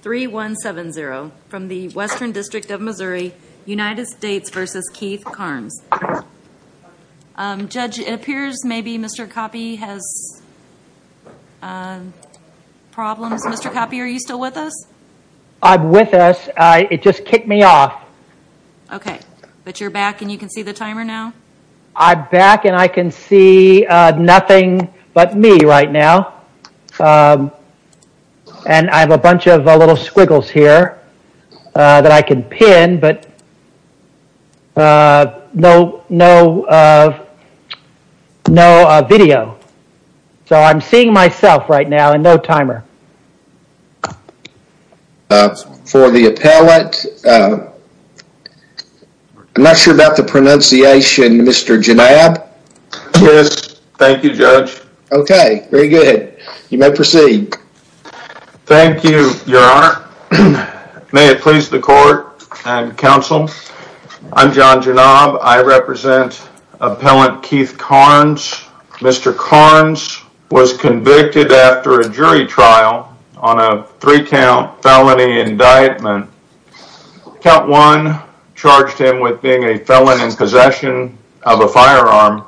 3 1 7 0 from the Western District of Missouri United States vs. Keith Carnes Judge it appears maybe mr. Copy has Problems mr. Copy are you still with us? I'm with us. I it just kicked me off Okay, but you're back and you can see the timer now. I'm back and I can see Nothing, but me right now and I have a bunch of little squiggles here that I can pin but No, no No video, so I'm seeing myself right now and no timer For the appellate I'm not sure about the pronunciation. Mr. Janab. Yes. Thank you judge. Okay, very good. You may proceed Thank you, your honor May it please the court and counsel. I'm John Janab. I represent Appellant Keith Carnes Mr. Carnes was convicted after a jury trial on a three count felony indictment Count one charged him with being a felon in possession of a firearm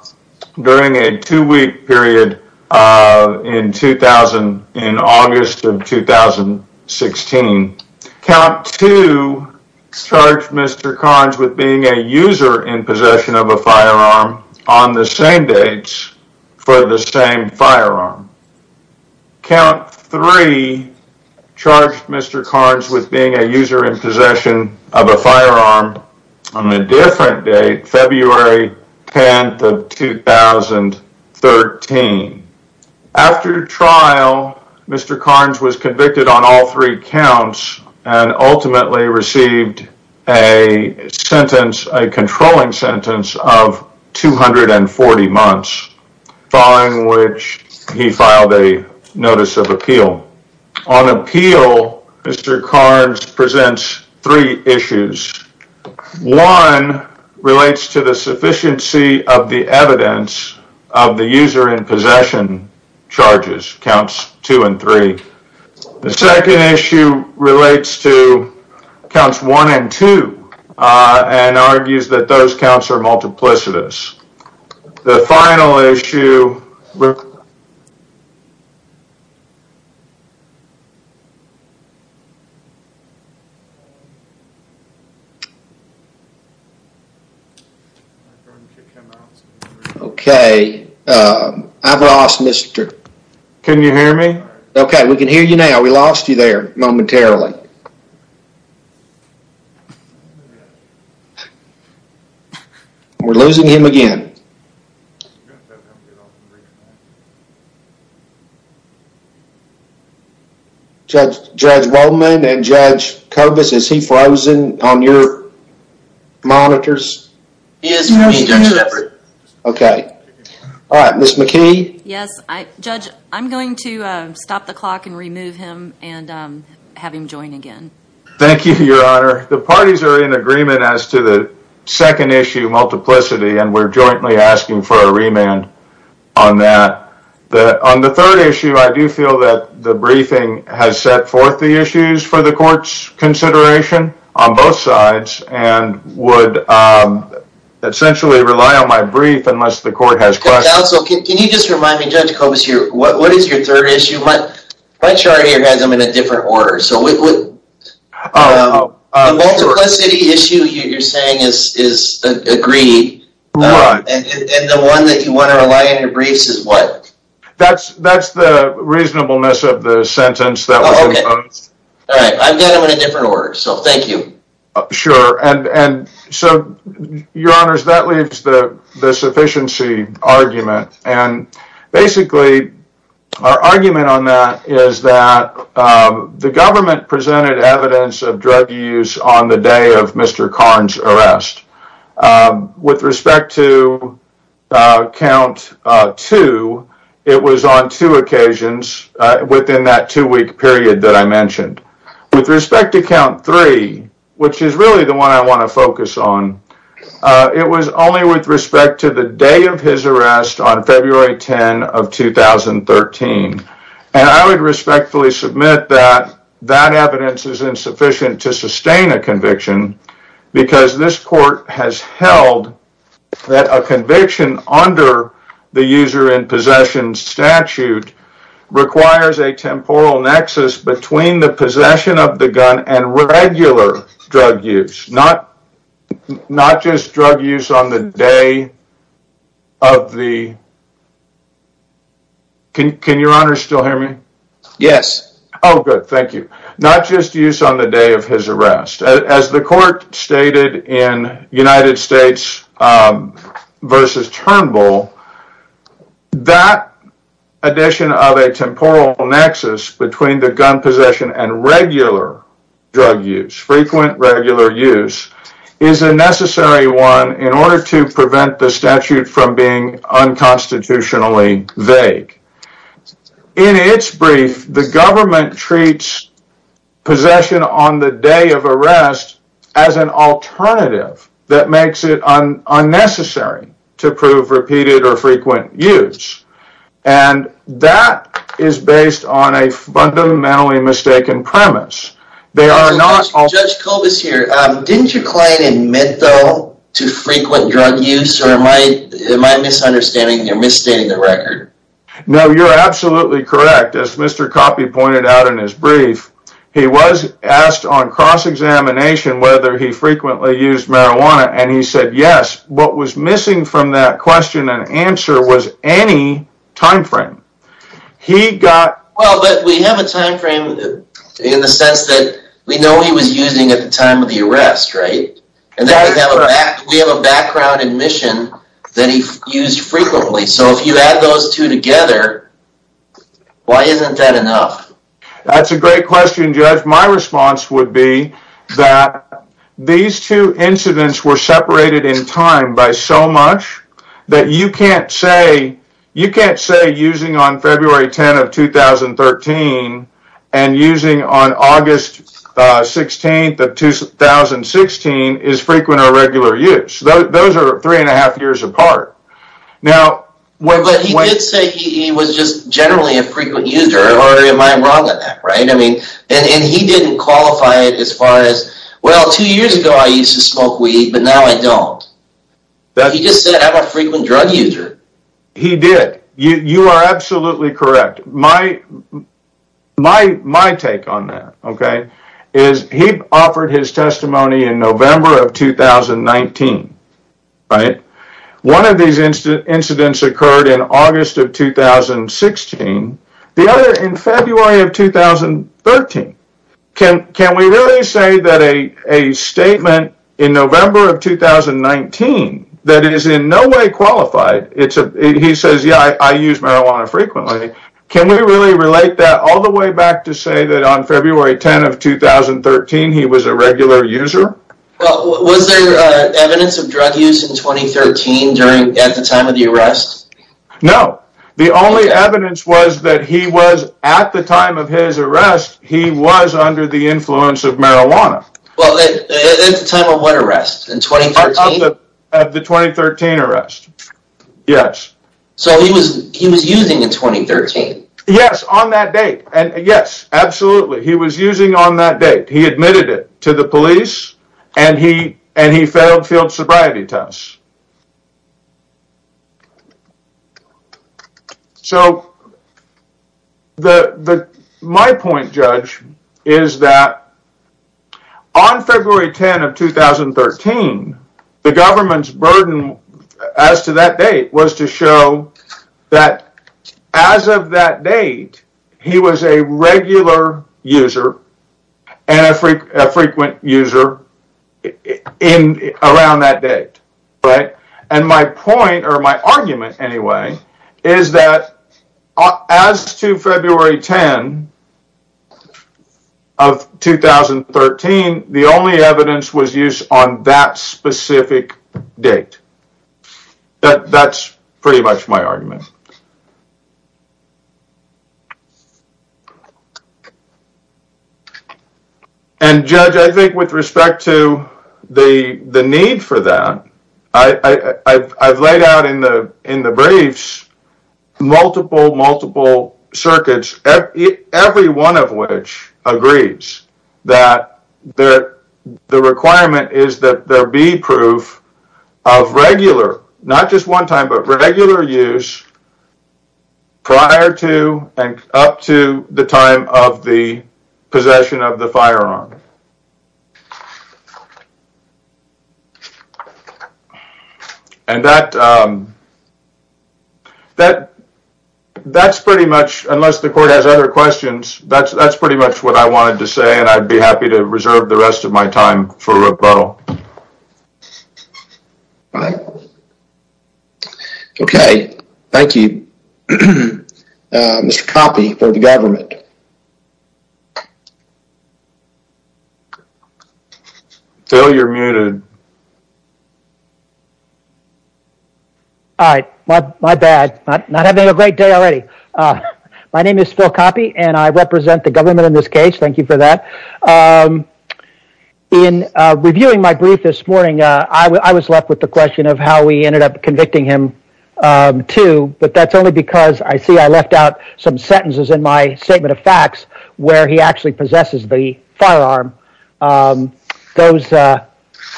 during a two-week period In 2000 in August of 2016 count to Start mr. Carnes with being a user in possession of a firearm on the same dates for the same firearm count three Charged. Mr. Carnes with being a user in possession of a firearm on a different date, February 10th of 2013 After trial, mr. Carnes was convicted on all three counts and ultimately received a sentence a controlling sentence of 240 months Following which he filed a notice of appeal on appeal Mr. Carnes presents three issues one Relates to the sufficiency of the evidence of the user in possession charges counts two and three the second issue relates to counts one and two And argues that those counts are multiplicitous the final issue Okay I've lost mr. Can you hear me? Okay, we can hear you now. We lost you there momentarily We're losing him again Judge Judge judge woman and judge Cobus is he frozen on your monitors? Okay All right, miss McKee. Yes, I judge I'm going to stop the clock and remove him and Have him join again. Thank you your honor. The parties are in agreement as to the second issue Multiplicity and we're jointly asking for a remand on that that on the third issue I do feel that the briefing has set forth the issues for the court's consideration on both sides and would Essentially rely on my brief and must the court has class. Okay. Can you just remind me judge Cobus here? What what is your third issue? But my chart here has them in a different order. So we would Issue you you're saying is is agreed The one that you want to rely on your briefs is what that's that's the reasonableness of the sentence that So, thank you sure and and so your honors that leaves the the sufficiency argument and basically our argument on that is that The government presented evidence of drug use on the day of mr. Carnes arrest with respect to count Two it was on two occasions Within that two-week period that I mentioned with respect to count three, which is really the one I want to focus on It was only with respect to the day of his arrest on February 10 of 2013 and I would respectfully submit that that evidence is insufficient to sustain a conviction Because this court has held that a conviction under the user in possession statute requires a temporal nexus between the possession of the gun and regular drug use not not just drug use on the day of the Can your honor still hear me? Yes. Oh good. Thank you Not just use on the day of his arrest as the court stated in United States versus Turnbull that addition of a temporal nexus between the gun possession and regular Drug use frequent regular use is a necessary one in order to prevent the statute from being Unconstitutionally vague In its brief the government treats possession on the day of arrest as an alternative that makes it unnecessary to prove repeated or frequent use and That is based on a fundamentally mistaken premise They are not all judge Colbis here Didn't your client admit though to frequent drug use or am I Misunderstanding you're misstating the record. No, you're absolutely correct as mr. Coffey pointed out in his brief He was asked on cross-examination whether he frequently used marijuana and he said yes What was missing from that question and answer was any? timeframe He got well, but we have a time frame In the sense that we know he was using at the time of the arrest, right and then We have a background admission that he used frequently. So if you add those two together Why isn't that enough? That's a great question judge. My response would be that These two incidents were separated in time by so much that you can't say you can't say using on February 10 of 2013 and using on August 16th of 2016 is frequent or regular use. Those are three and a half years apart Now what he did say he was just generally a frequent user or am I wrong on that, right? I mean and he didn't qualify it as far as well two years ago. I used to smoke weed, but now I don't He just said I'm a frequent drug user he did you you are absolutely correct my My my take on that. Okay is he offered his testimony in November of 2019 right one of these incidents occurred in August of 2016 the other in February of 2013 can can we really say that a statement in November of 2019 that it is in no way qualified. It's a he says, yeah, I use marijuana frequently Can we really relate that all the way back to say that on February 10 of 2013? He was a regular user No, the only evidence was that he was at the time of his arrest he was under the influence of marijuana At the time of what arrest in 2013? At the 2013 arrest Yes, so he was he was using in 2013. Yes on that date. And yes, absolutely He was using on that date. He admitted it to the police and he and he failed field sobriety tests So the the my point judge is that I February 10 of 2013 the government's burden as to that date was to show that as of that date he was a regular user and a frequent user in around that date, right and my point or my argument anyway, is that as to February 10 of 2013 the only evidence was used on that specific date That that's pretty much my argument And Judge I think with respect to the the need for that. I I've laid out in the in the briefs multiple multiple circuits Every one of which agrees that there the requirement is that there be proof of Regular, not just one time but regular use Prior to and up to the time of the possession of the firearm And that That That's pretty much unless the court has other questions That's that's pretty much what I wanted to say and I'd be happy to reserve the rest of my time for a rebuttal Okay, thank you mr. Copy for the government Phil you're muted All right, my bad not having a great day already My name is Phil copy and I represent the government in this case. Thank you for that In reviewing my brief this morning, I was left with the question of how we ended up convicting him To but that's only because I see I left out some sentences in my statement of facts where he actually possesses the firearm those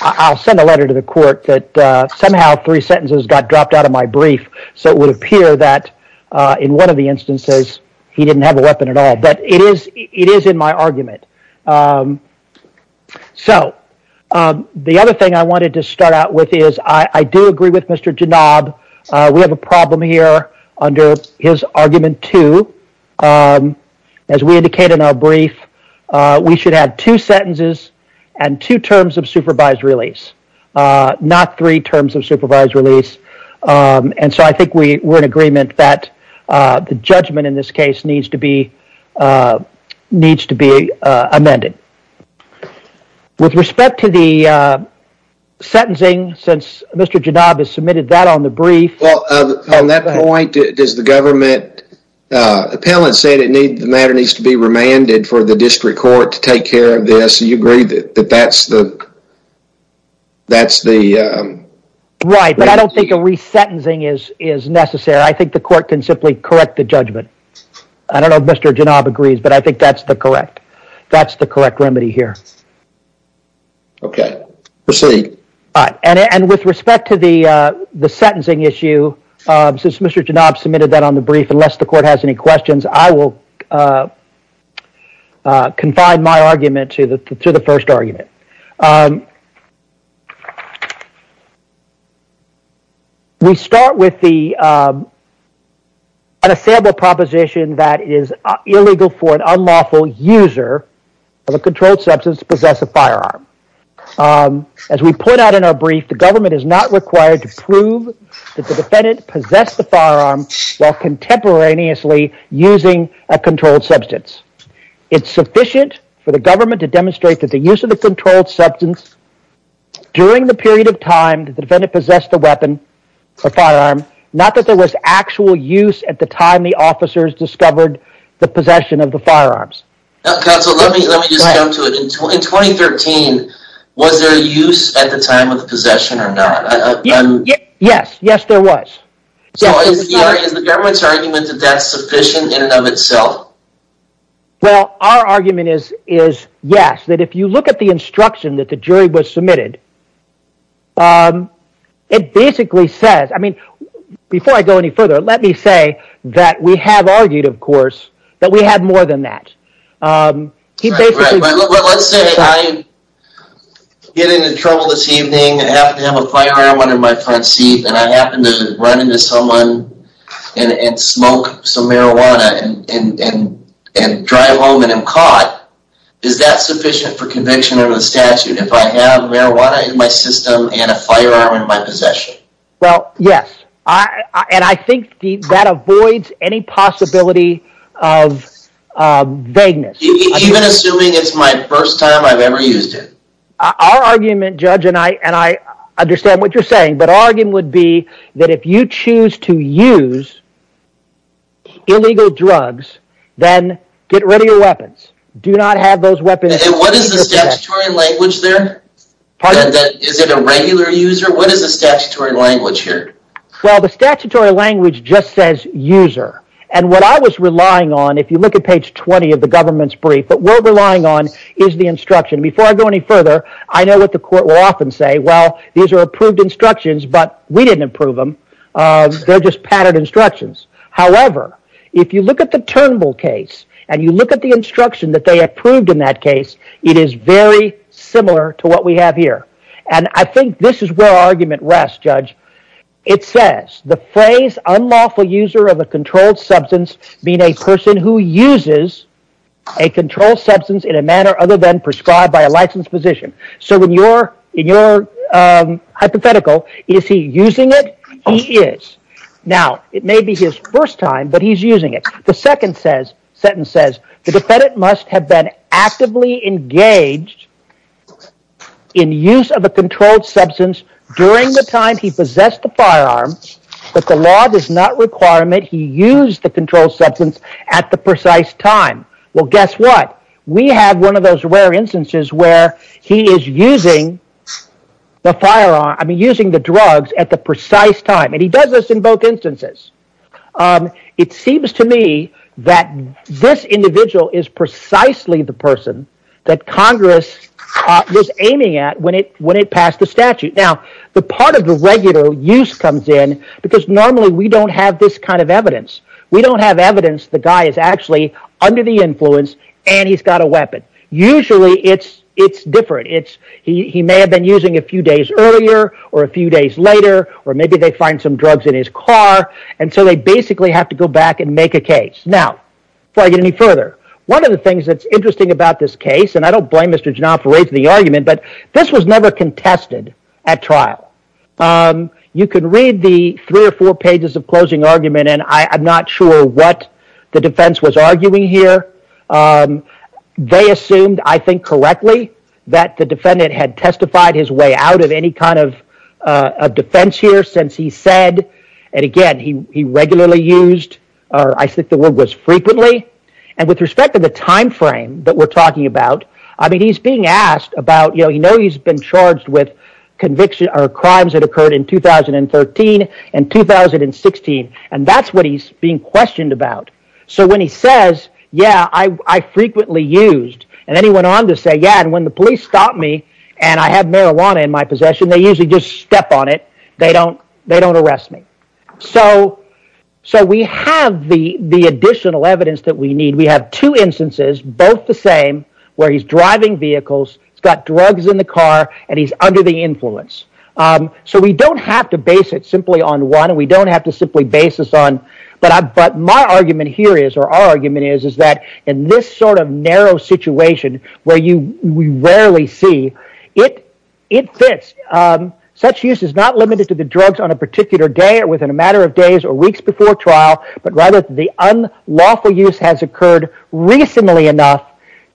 I'll send a letter to the court that somehow three sentences got dropped out of my brief So it would appear that in one of the instances he didn't have a weapon at all, but it is it is in my argument So The other thing I wanted to start out with is I do agree with mr. Jinnah We have a problem here under his argument, too as we indicate in our brief We should have two sentences and two terms of supervised release Not three terms of supervised release And so I think we were in agreement that the judgment in this case needs to be Needs to be amended With respect to the Sentencing since mr. Jinnah has submitted that on the brief Does the government Appellant said it need the matter needs to be remanded for the district court to take care of this you agree that that's the that's the Right, but I don't think a resentencing is is necessary. I think the court can simply correct the judgment I don't know if mr. Jinnah agrees, but I think that's the correct. That's the correct remedy here Okay, we'll see and with respect to the the sentencing issue Since mr. Jinnah submitted that on the brief unless the court has any questions, I will Confine my argument to the to the first argument We start with the Unassailable proposition that is illegal for an unlawful user of a controlled substance possess a firearm As we put out in our brief the government is not required to prove that the defendant possessed the firearm while contemporaneously using a controlled substance It's sufficient for the government to demonstrate that the use of the controlled substance During the period of time that the defendant possessed the weapon The firearm not that there was actual use at the time. The officers discovered the possession of the firearms So, let me let me just go to it in 2013 was there a use at the time of the possession or not Yes. Yes, there was The government's argument that that's sufficient in and of itself Well, our argument is is yes that if you look at the instruction that the jury was submitted It basically says I mean before I go any further Let me say that we have argued of course that we had more than that He basically Get into trouble this evening and have to have a firearm on in my front seat and I happen to run into someone and smoke some marijuana and Drive home and I'm caught Is that sufficient for conviction of the statute if I have marijuana in my system and a firearm in my possession? well, yes, I and I think that avoids any possibility of Vagueness Our argument judge and I and I understand what you're saying, but our game would be that if you choose to use Illegal drugs then get rid of your weapons do not have those weapons Well, the statutory language just says user and what I was relying on If you look at page 20 of the government's brief, but we're relying on is the instruction before I go any further I know what the court will often say. Well, these are approved instructions, but we didn't approve them They're just patterned instructions However, if you look at the Turnbull case and you look at the instruction that they approved in that case It is very similar to what we have here. And I think this is where argument rest judge It says the phrase unlawful user of a controlled substance being a person who uses a Controlled substance in a manner other than prescribed by a licensed physician. So when you're in your Hypothetical is he using it? He is now it may be his first time But he's using it. The second says sentence says the defendant must have been actively engaged In use of a controlled substance during the time he possessed the firearms But the law does not requirement he used the controlled substance at the precise time Well, guess what? We have one of those rare instances where he is using The firearm I mean using the drugs at the precise time and he does this in both instances It seems to me that This individual is precisely the person that Congress Was aiming at when it when it passed the statute now the part of the regular use comes in because normally we don't have this Kind of evidence. We don't have evidence. The guy is actually under the influence and he's got a weapon Usually it's it's different It's he may have been using a few days earlier or a few days later Or maybe they find some drugs in his car And so they basically have to go back and make a case now before I get any further One of the things that's interesting about this case, and I don't blame mr. Janoff for raising the argument, but this was never contested at trial You could read the three or four pages of closing argument, and I'm not sure what the defense was arguing here They assumed I think correctly that the defendant had testified his way out of any kind of Defense here since he said and again He regularly used or I think the word was frequently and with respect to the time frame that we're talking about I mean he's being asked about you know, you know, he's been charged with conviction or crimes that occurred in 2013 and 2016 and that's what he's being questioned about So when he says yeah I Frequently used and then he went on to say yeah When the police stopped me and I had marijuana in my possession, they usually just step on it. They don't they don't arrest me. So So we have the the additional evidence that we need we have two instances both the same where he's driving vehicles It's got drugs in the car and he's under the influence So we don't have to base it simply on one and we don't have to simply basis on But I've got my argument here is or our argument is is that in this sort of narrow? Situation where you we rarely see it it fits Such use is not limited to the drugs on a particular day or within a matter of days or weeks before trial But rather the unlawful use has occurred Recently enough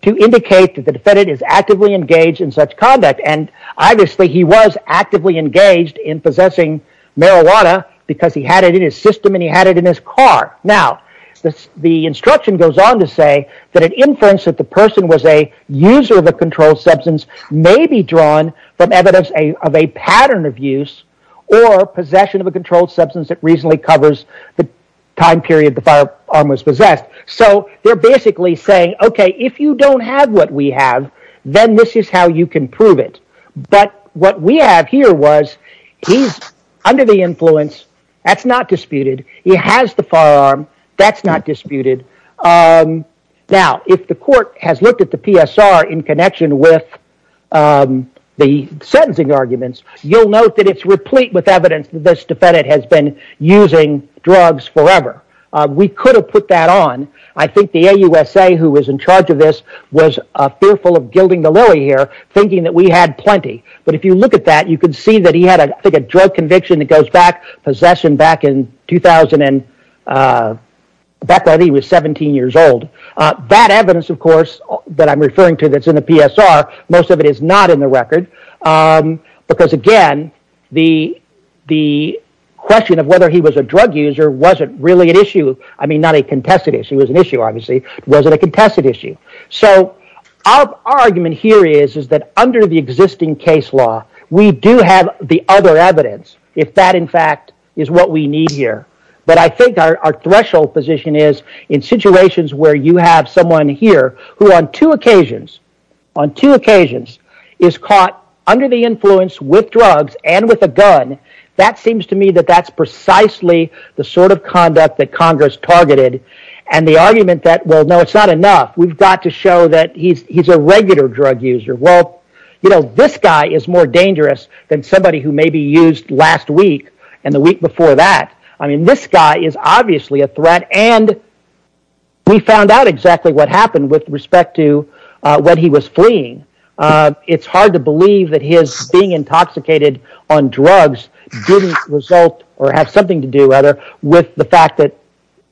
to indicate that the defendant is actively engaged in such conduct and obviously he was actively engaged in possessing Marijuana because he had it in his system and he had it in his car This the instruction goes on to say that an inference that the person was a user of a controlled substance may be drawn from evidence a of a pattern of use or Possession of a controlled substance that reasonably covers the time period the firearm was possessed So they're basically saying okay, if you don't have what we have then this is how you can prove it But what we have here was he's under the influence. That's not disputed He has the firearm. That's not disputed Now if the court has looked at the PSR in connection with The sentencing arguments, you'll note that it's replete with evidence that this defendant has been using drugs forever We could have put that on I think the a USA who was in charge of this was a fearful of gilding the lily here thinking that we had plenty But if you look at that, you can see that he had I think a drug conviction that goes back possession back in 2000 and Back when he was 17 years old that evidence, of course that I'm referring to that's in the PSR Most of it is not in the record because again the the Question of whether he was a drug user wasn't really an issue I mean not a contested issue was an issue obviously wasn't a contested issue So our argument here is is that under the existing case law? We do have the other evidence if that in fact is what we need here But I think our threshold position is in situations where you have someone here who on two occasions on Two occasions is caught under the influence with drugs and with a gun That seems to me that that's precisely the sort of conduct that Congress targeted and the argument that well No, it's not enough. We've got to show that he's a regular drug user You know, this guy is more dangerous than somebody who may be used last week and the week before that I mean this guy is obviously a threat and We found out exactly what happened with respect to what he was fleeing It's hard to believe that he is being intoxicated on drugs Result or have something to do whether with the fact that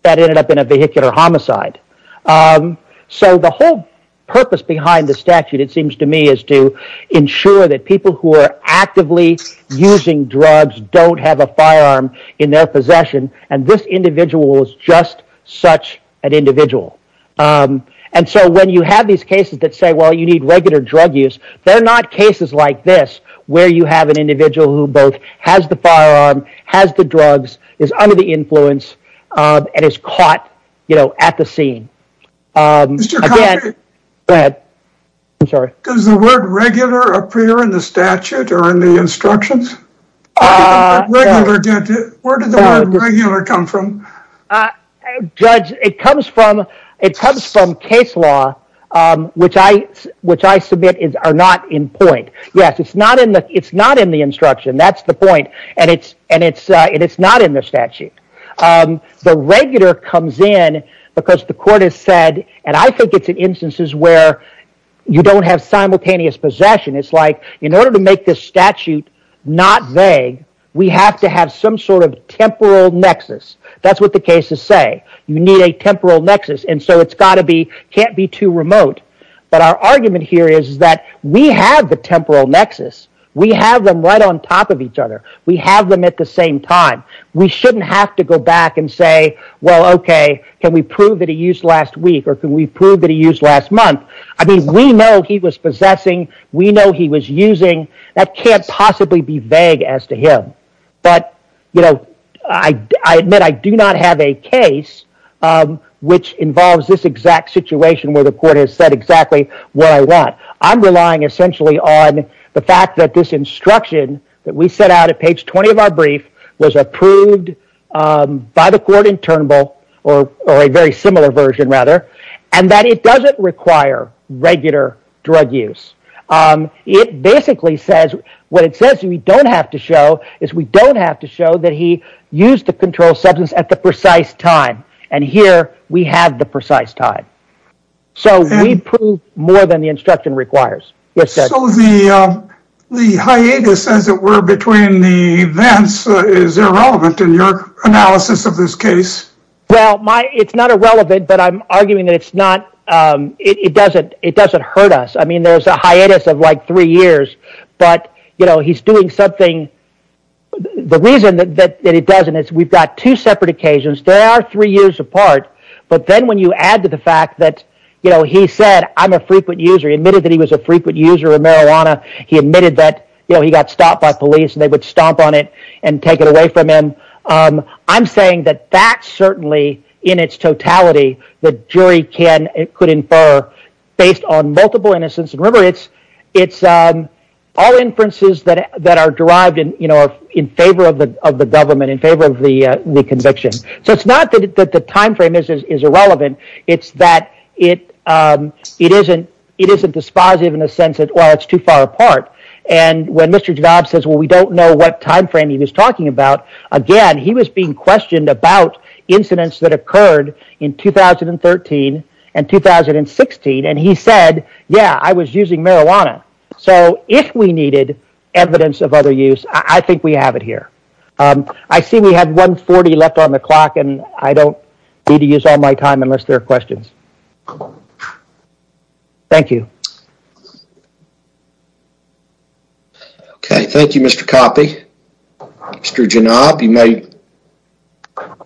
that ended up in a vehicular homicide So the whole purpose behind the statute it seems to me is to ensure that people who are actively Using drugs don't have a firearm in their possession and this individual is just such an individual And so when you have these cases that say well you need regular drug use They're not cases like this where you have an individual who both has the firearm has the drugs is under the influence And it's caught, you know at the scene But I'm sorry does the word regular appear in the statute or in the instructions Judge it comes from it comes from case law Which I which I submit is are not in point. Yes. It's not in the it's not in the instruction That's the point and it's and it's it's not in the statute the regular comes in because the court has said and I think it's in instances where You don't have simultaneous possession. It's like in order to make this statute not vague We have to have some sort of temporal nexus. That's what the cases say You need a temporal nexus and so it's got to be can't be too remote But our argument here is that we have the temporal nexus. We have them right on top of each other We have them at the same time. We shouldn't have to go back and say well, okay Can we prove that he used last week or can we prove that he used last month? I mean, we know he was possessing we know he was using that can't possibly be vague as to him But you know, I I admit I do not have a case Which involves this exact situation where the court has said exactly what I want I'm relying essentially on the fact that this instruction that we set out at page 20 of our brief was approved By the court in Turnbull or or a very similar version rather and that it doesn't require regular drug use It basically says what it says We don't have to show is we don't have to show that he used to control substance at the precise time and here We have the precise time So we prove more than the instruction requires The hiatus as it were between the events is irrelevant in your analysis of this case Well, my it's not irrelevant, but I'm arguing that it's not It doesn't it doesn't hurt us. I mean there's a hiatus of like three years, but you know, he's doing something The reason that that it doesn't it's we've got two separate occasions There are three years apart But then when you add to the fact that you know He said I'm a frequent user admitted that he was a frequent user of marijuana He admitted that you know, he got stopped by police and they would stomp on it and take it away from him I'm saying that that's certainly in its totality the jury can it could infer based on multiple innocence and river it's it's all inferences that that are derived in you know in favor of the of the government in favor of the Conviction so it's not that the time frame is is irrelevant. It's that it It isn't it isn't dispositive in a sense that well, it's too far apart and when mr. Jobs says well We don't know what time frame he was talking about again. He was being questioned about incidents that occurred in 2013 and 2016 and he said yeah, I was using marijuana. So if we needed evidence of other use, I think we have it here I see we had 140 left on the clock and I don't need to use all my time unless there are questions Thank you Okay, thank you, mr. Copy mr. Janab you may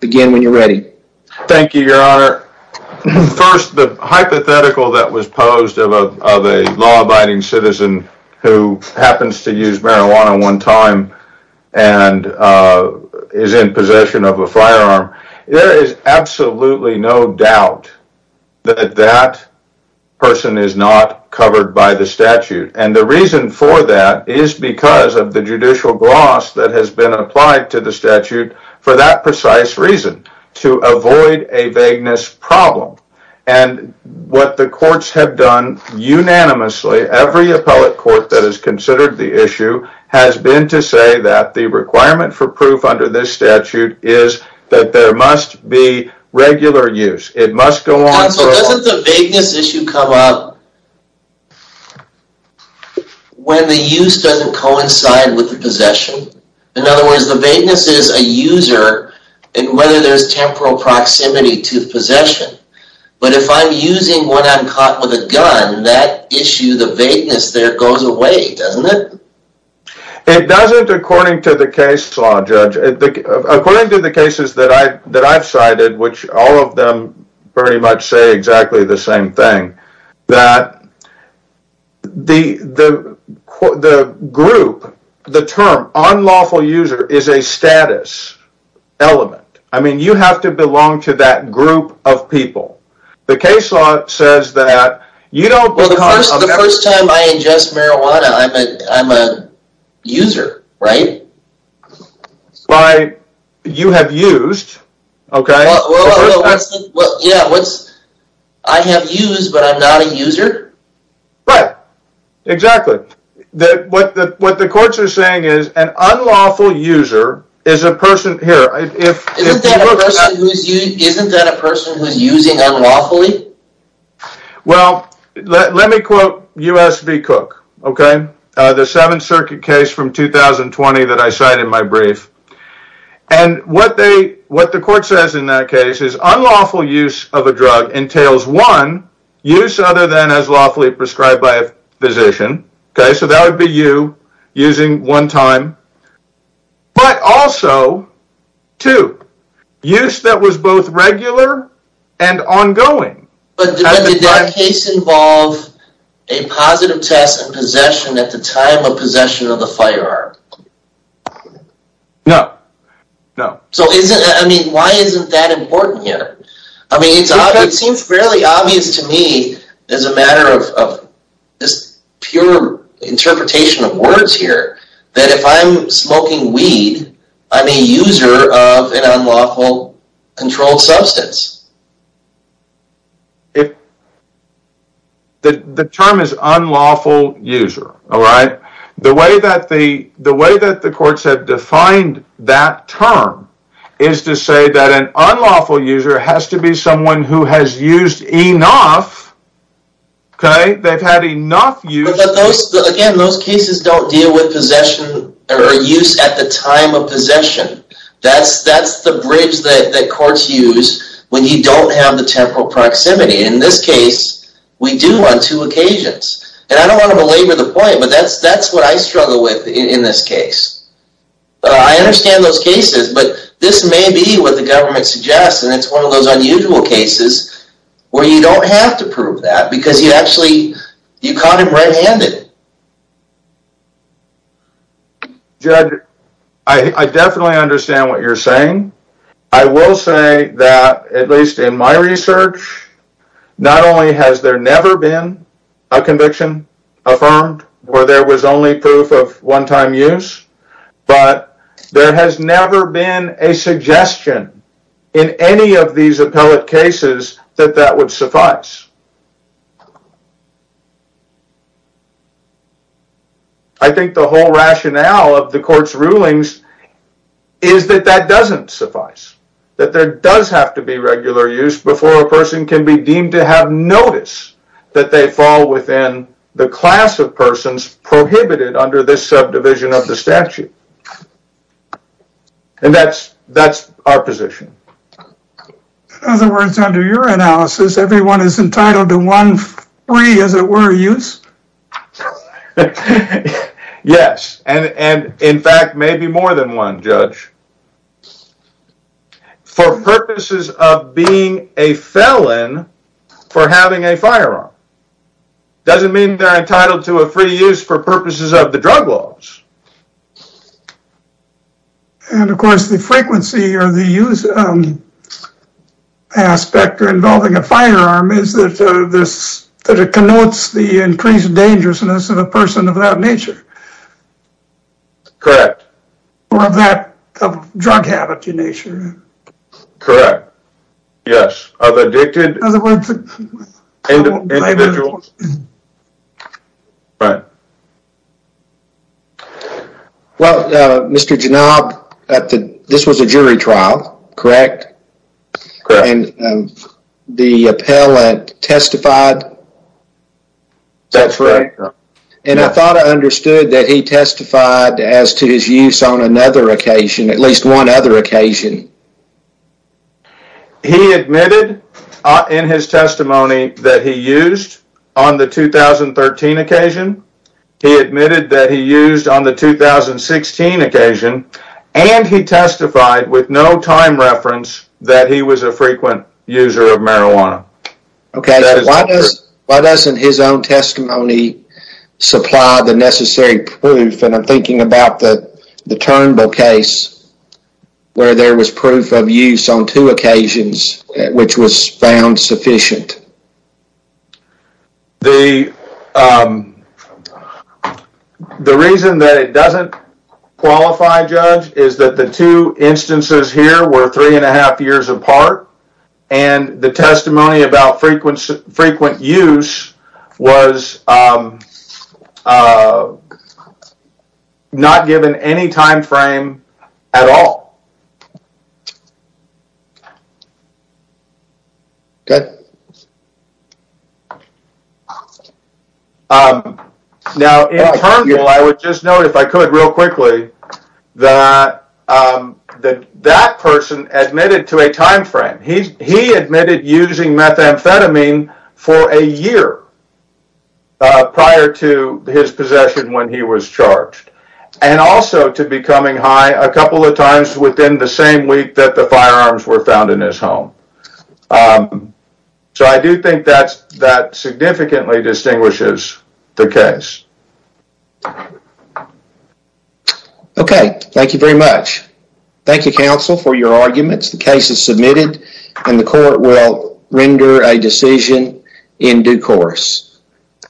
Begin when you're ready. Thank you your honor first the hypothetical that was posed of a law-abiding citizen who happens to use marijuana one time and Is in possession of a firearm there is absolutely no doubt that that person is not covered by the statute and the reason for that is Because of the judicial gloss that has been applied to the statute for that precise reason to avoid a vagueness problem and What the courts have done? Unanimously every appellate court that is considered the issue has been to say that the requirement for proof under this statute is That there must be Regular use it must go on When the use doesn't coincide with the possession in other words the vagueness is a user And whether there's temporal proximity to possession But if I'm using what I'm caught with a gun that issue the vagueness there goes away doesn't it It doesn't according to the case law judge according to the cases that I that I've cited which all of them pretty much say exactly the same thing that The the Group the term unlawful user is a status Element, I mean you have to belong to that group of people the case law says that you don't User right why you have used okay But Exactly that what the what the courts are saying is an unlawful user is a person here Well, let me quote US v. Cook, okay the Seventh Circuit case from 2020 that I cited my brief and What they what the court says in that case is unlawful use of a drug entails one Use other than as lawfully prescribed by a physician, okay, so that would be you using one time but also to use that was both regular and ongoing A positive test and possession at the time of possession of the firearm No, no, so isn't I mean why isn't that important here? I mean, it seems fairly obvious to me as a matter of this pure Interpretation of words here that if I'm smoking weed, I'm a user of an unlawful controlled substance If The the term is unlawful user alright the way that the the way that the courts have defined that term is To say that an unlawful user has to be someone who has used enough Okay, they've had enough you Again, those cases don't deal with possession or use at the time of possession That's that's the bridge that courts use when you don't have the temporal proximity in this case We do on two occasions and I don't want to belabor the point, but that's that's what I struggle with in this case. I Suggest and it's one of those unusual cases where you don't have to prove that because you actually you caught him red-handed Judge I Definitely understand what you're saying. I will say that at least in my research Not only has there never been a conviction Affirmed where there was only proof of one-time use But there has never been a suggestion in any of these appellate cases that that would suffice I Think the whole rationale of the court's rulings is That that doesn't suffice That there does have to be regular use before a person can be deemed to have notice that they fall within The class of persons prohibited under this subdivision of the statute And that's that's our position In other words under your analysis everyone is entitled to one free as it were use Yes, and and in fact maybe more than one judge For purposes of being a felon for having a firearm Doesn't mean they're entitled to a free use for purposes of the drug laws And of course the frequency or the use Aspect or involving a firearm is that this that it connotes the increased dangerousness of a person of that nature Correct or of that drug habit in nature, correct? Yes Individuals Right Well, mr. Janab at the this was a jury trial, correct correct and the appellant testified That's right, and I thought I understood that he testified as to his use on another occasion at least one other occasion He Admitted in his testimony that he used on the 2013 occasion he admitted that he used on the 2016 occasion and he testified with no time reference that he was a frequent user of marijuana Okay, why does why doesn't his own testimony? Supply the necessary proof and I'm thinking about that the Turnbull case Where there was proof of use on two occasions which was found sufficient The The reason that it doesn't qualify judge is that the two instances here were three and a half years apart and the testimony about frequency frequent use was Not given any time frame at all Good Now I would just note if I could real quickly that That that person admitted to a time frame. He's he admitted using methamphetamine for a year Prior to his possession when he was charged and Also to becoming high a couple of times within the same week that the firearms were found in his home So I do think that's that significantly distinguishes the case Okay, thank you very much Thank you counsel for your arguments. The case is submitted and the court will render a decision in due course You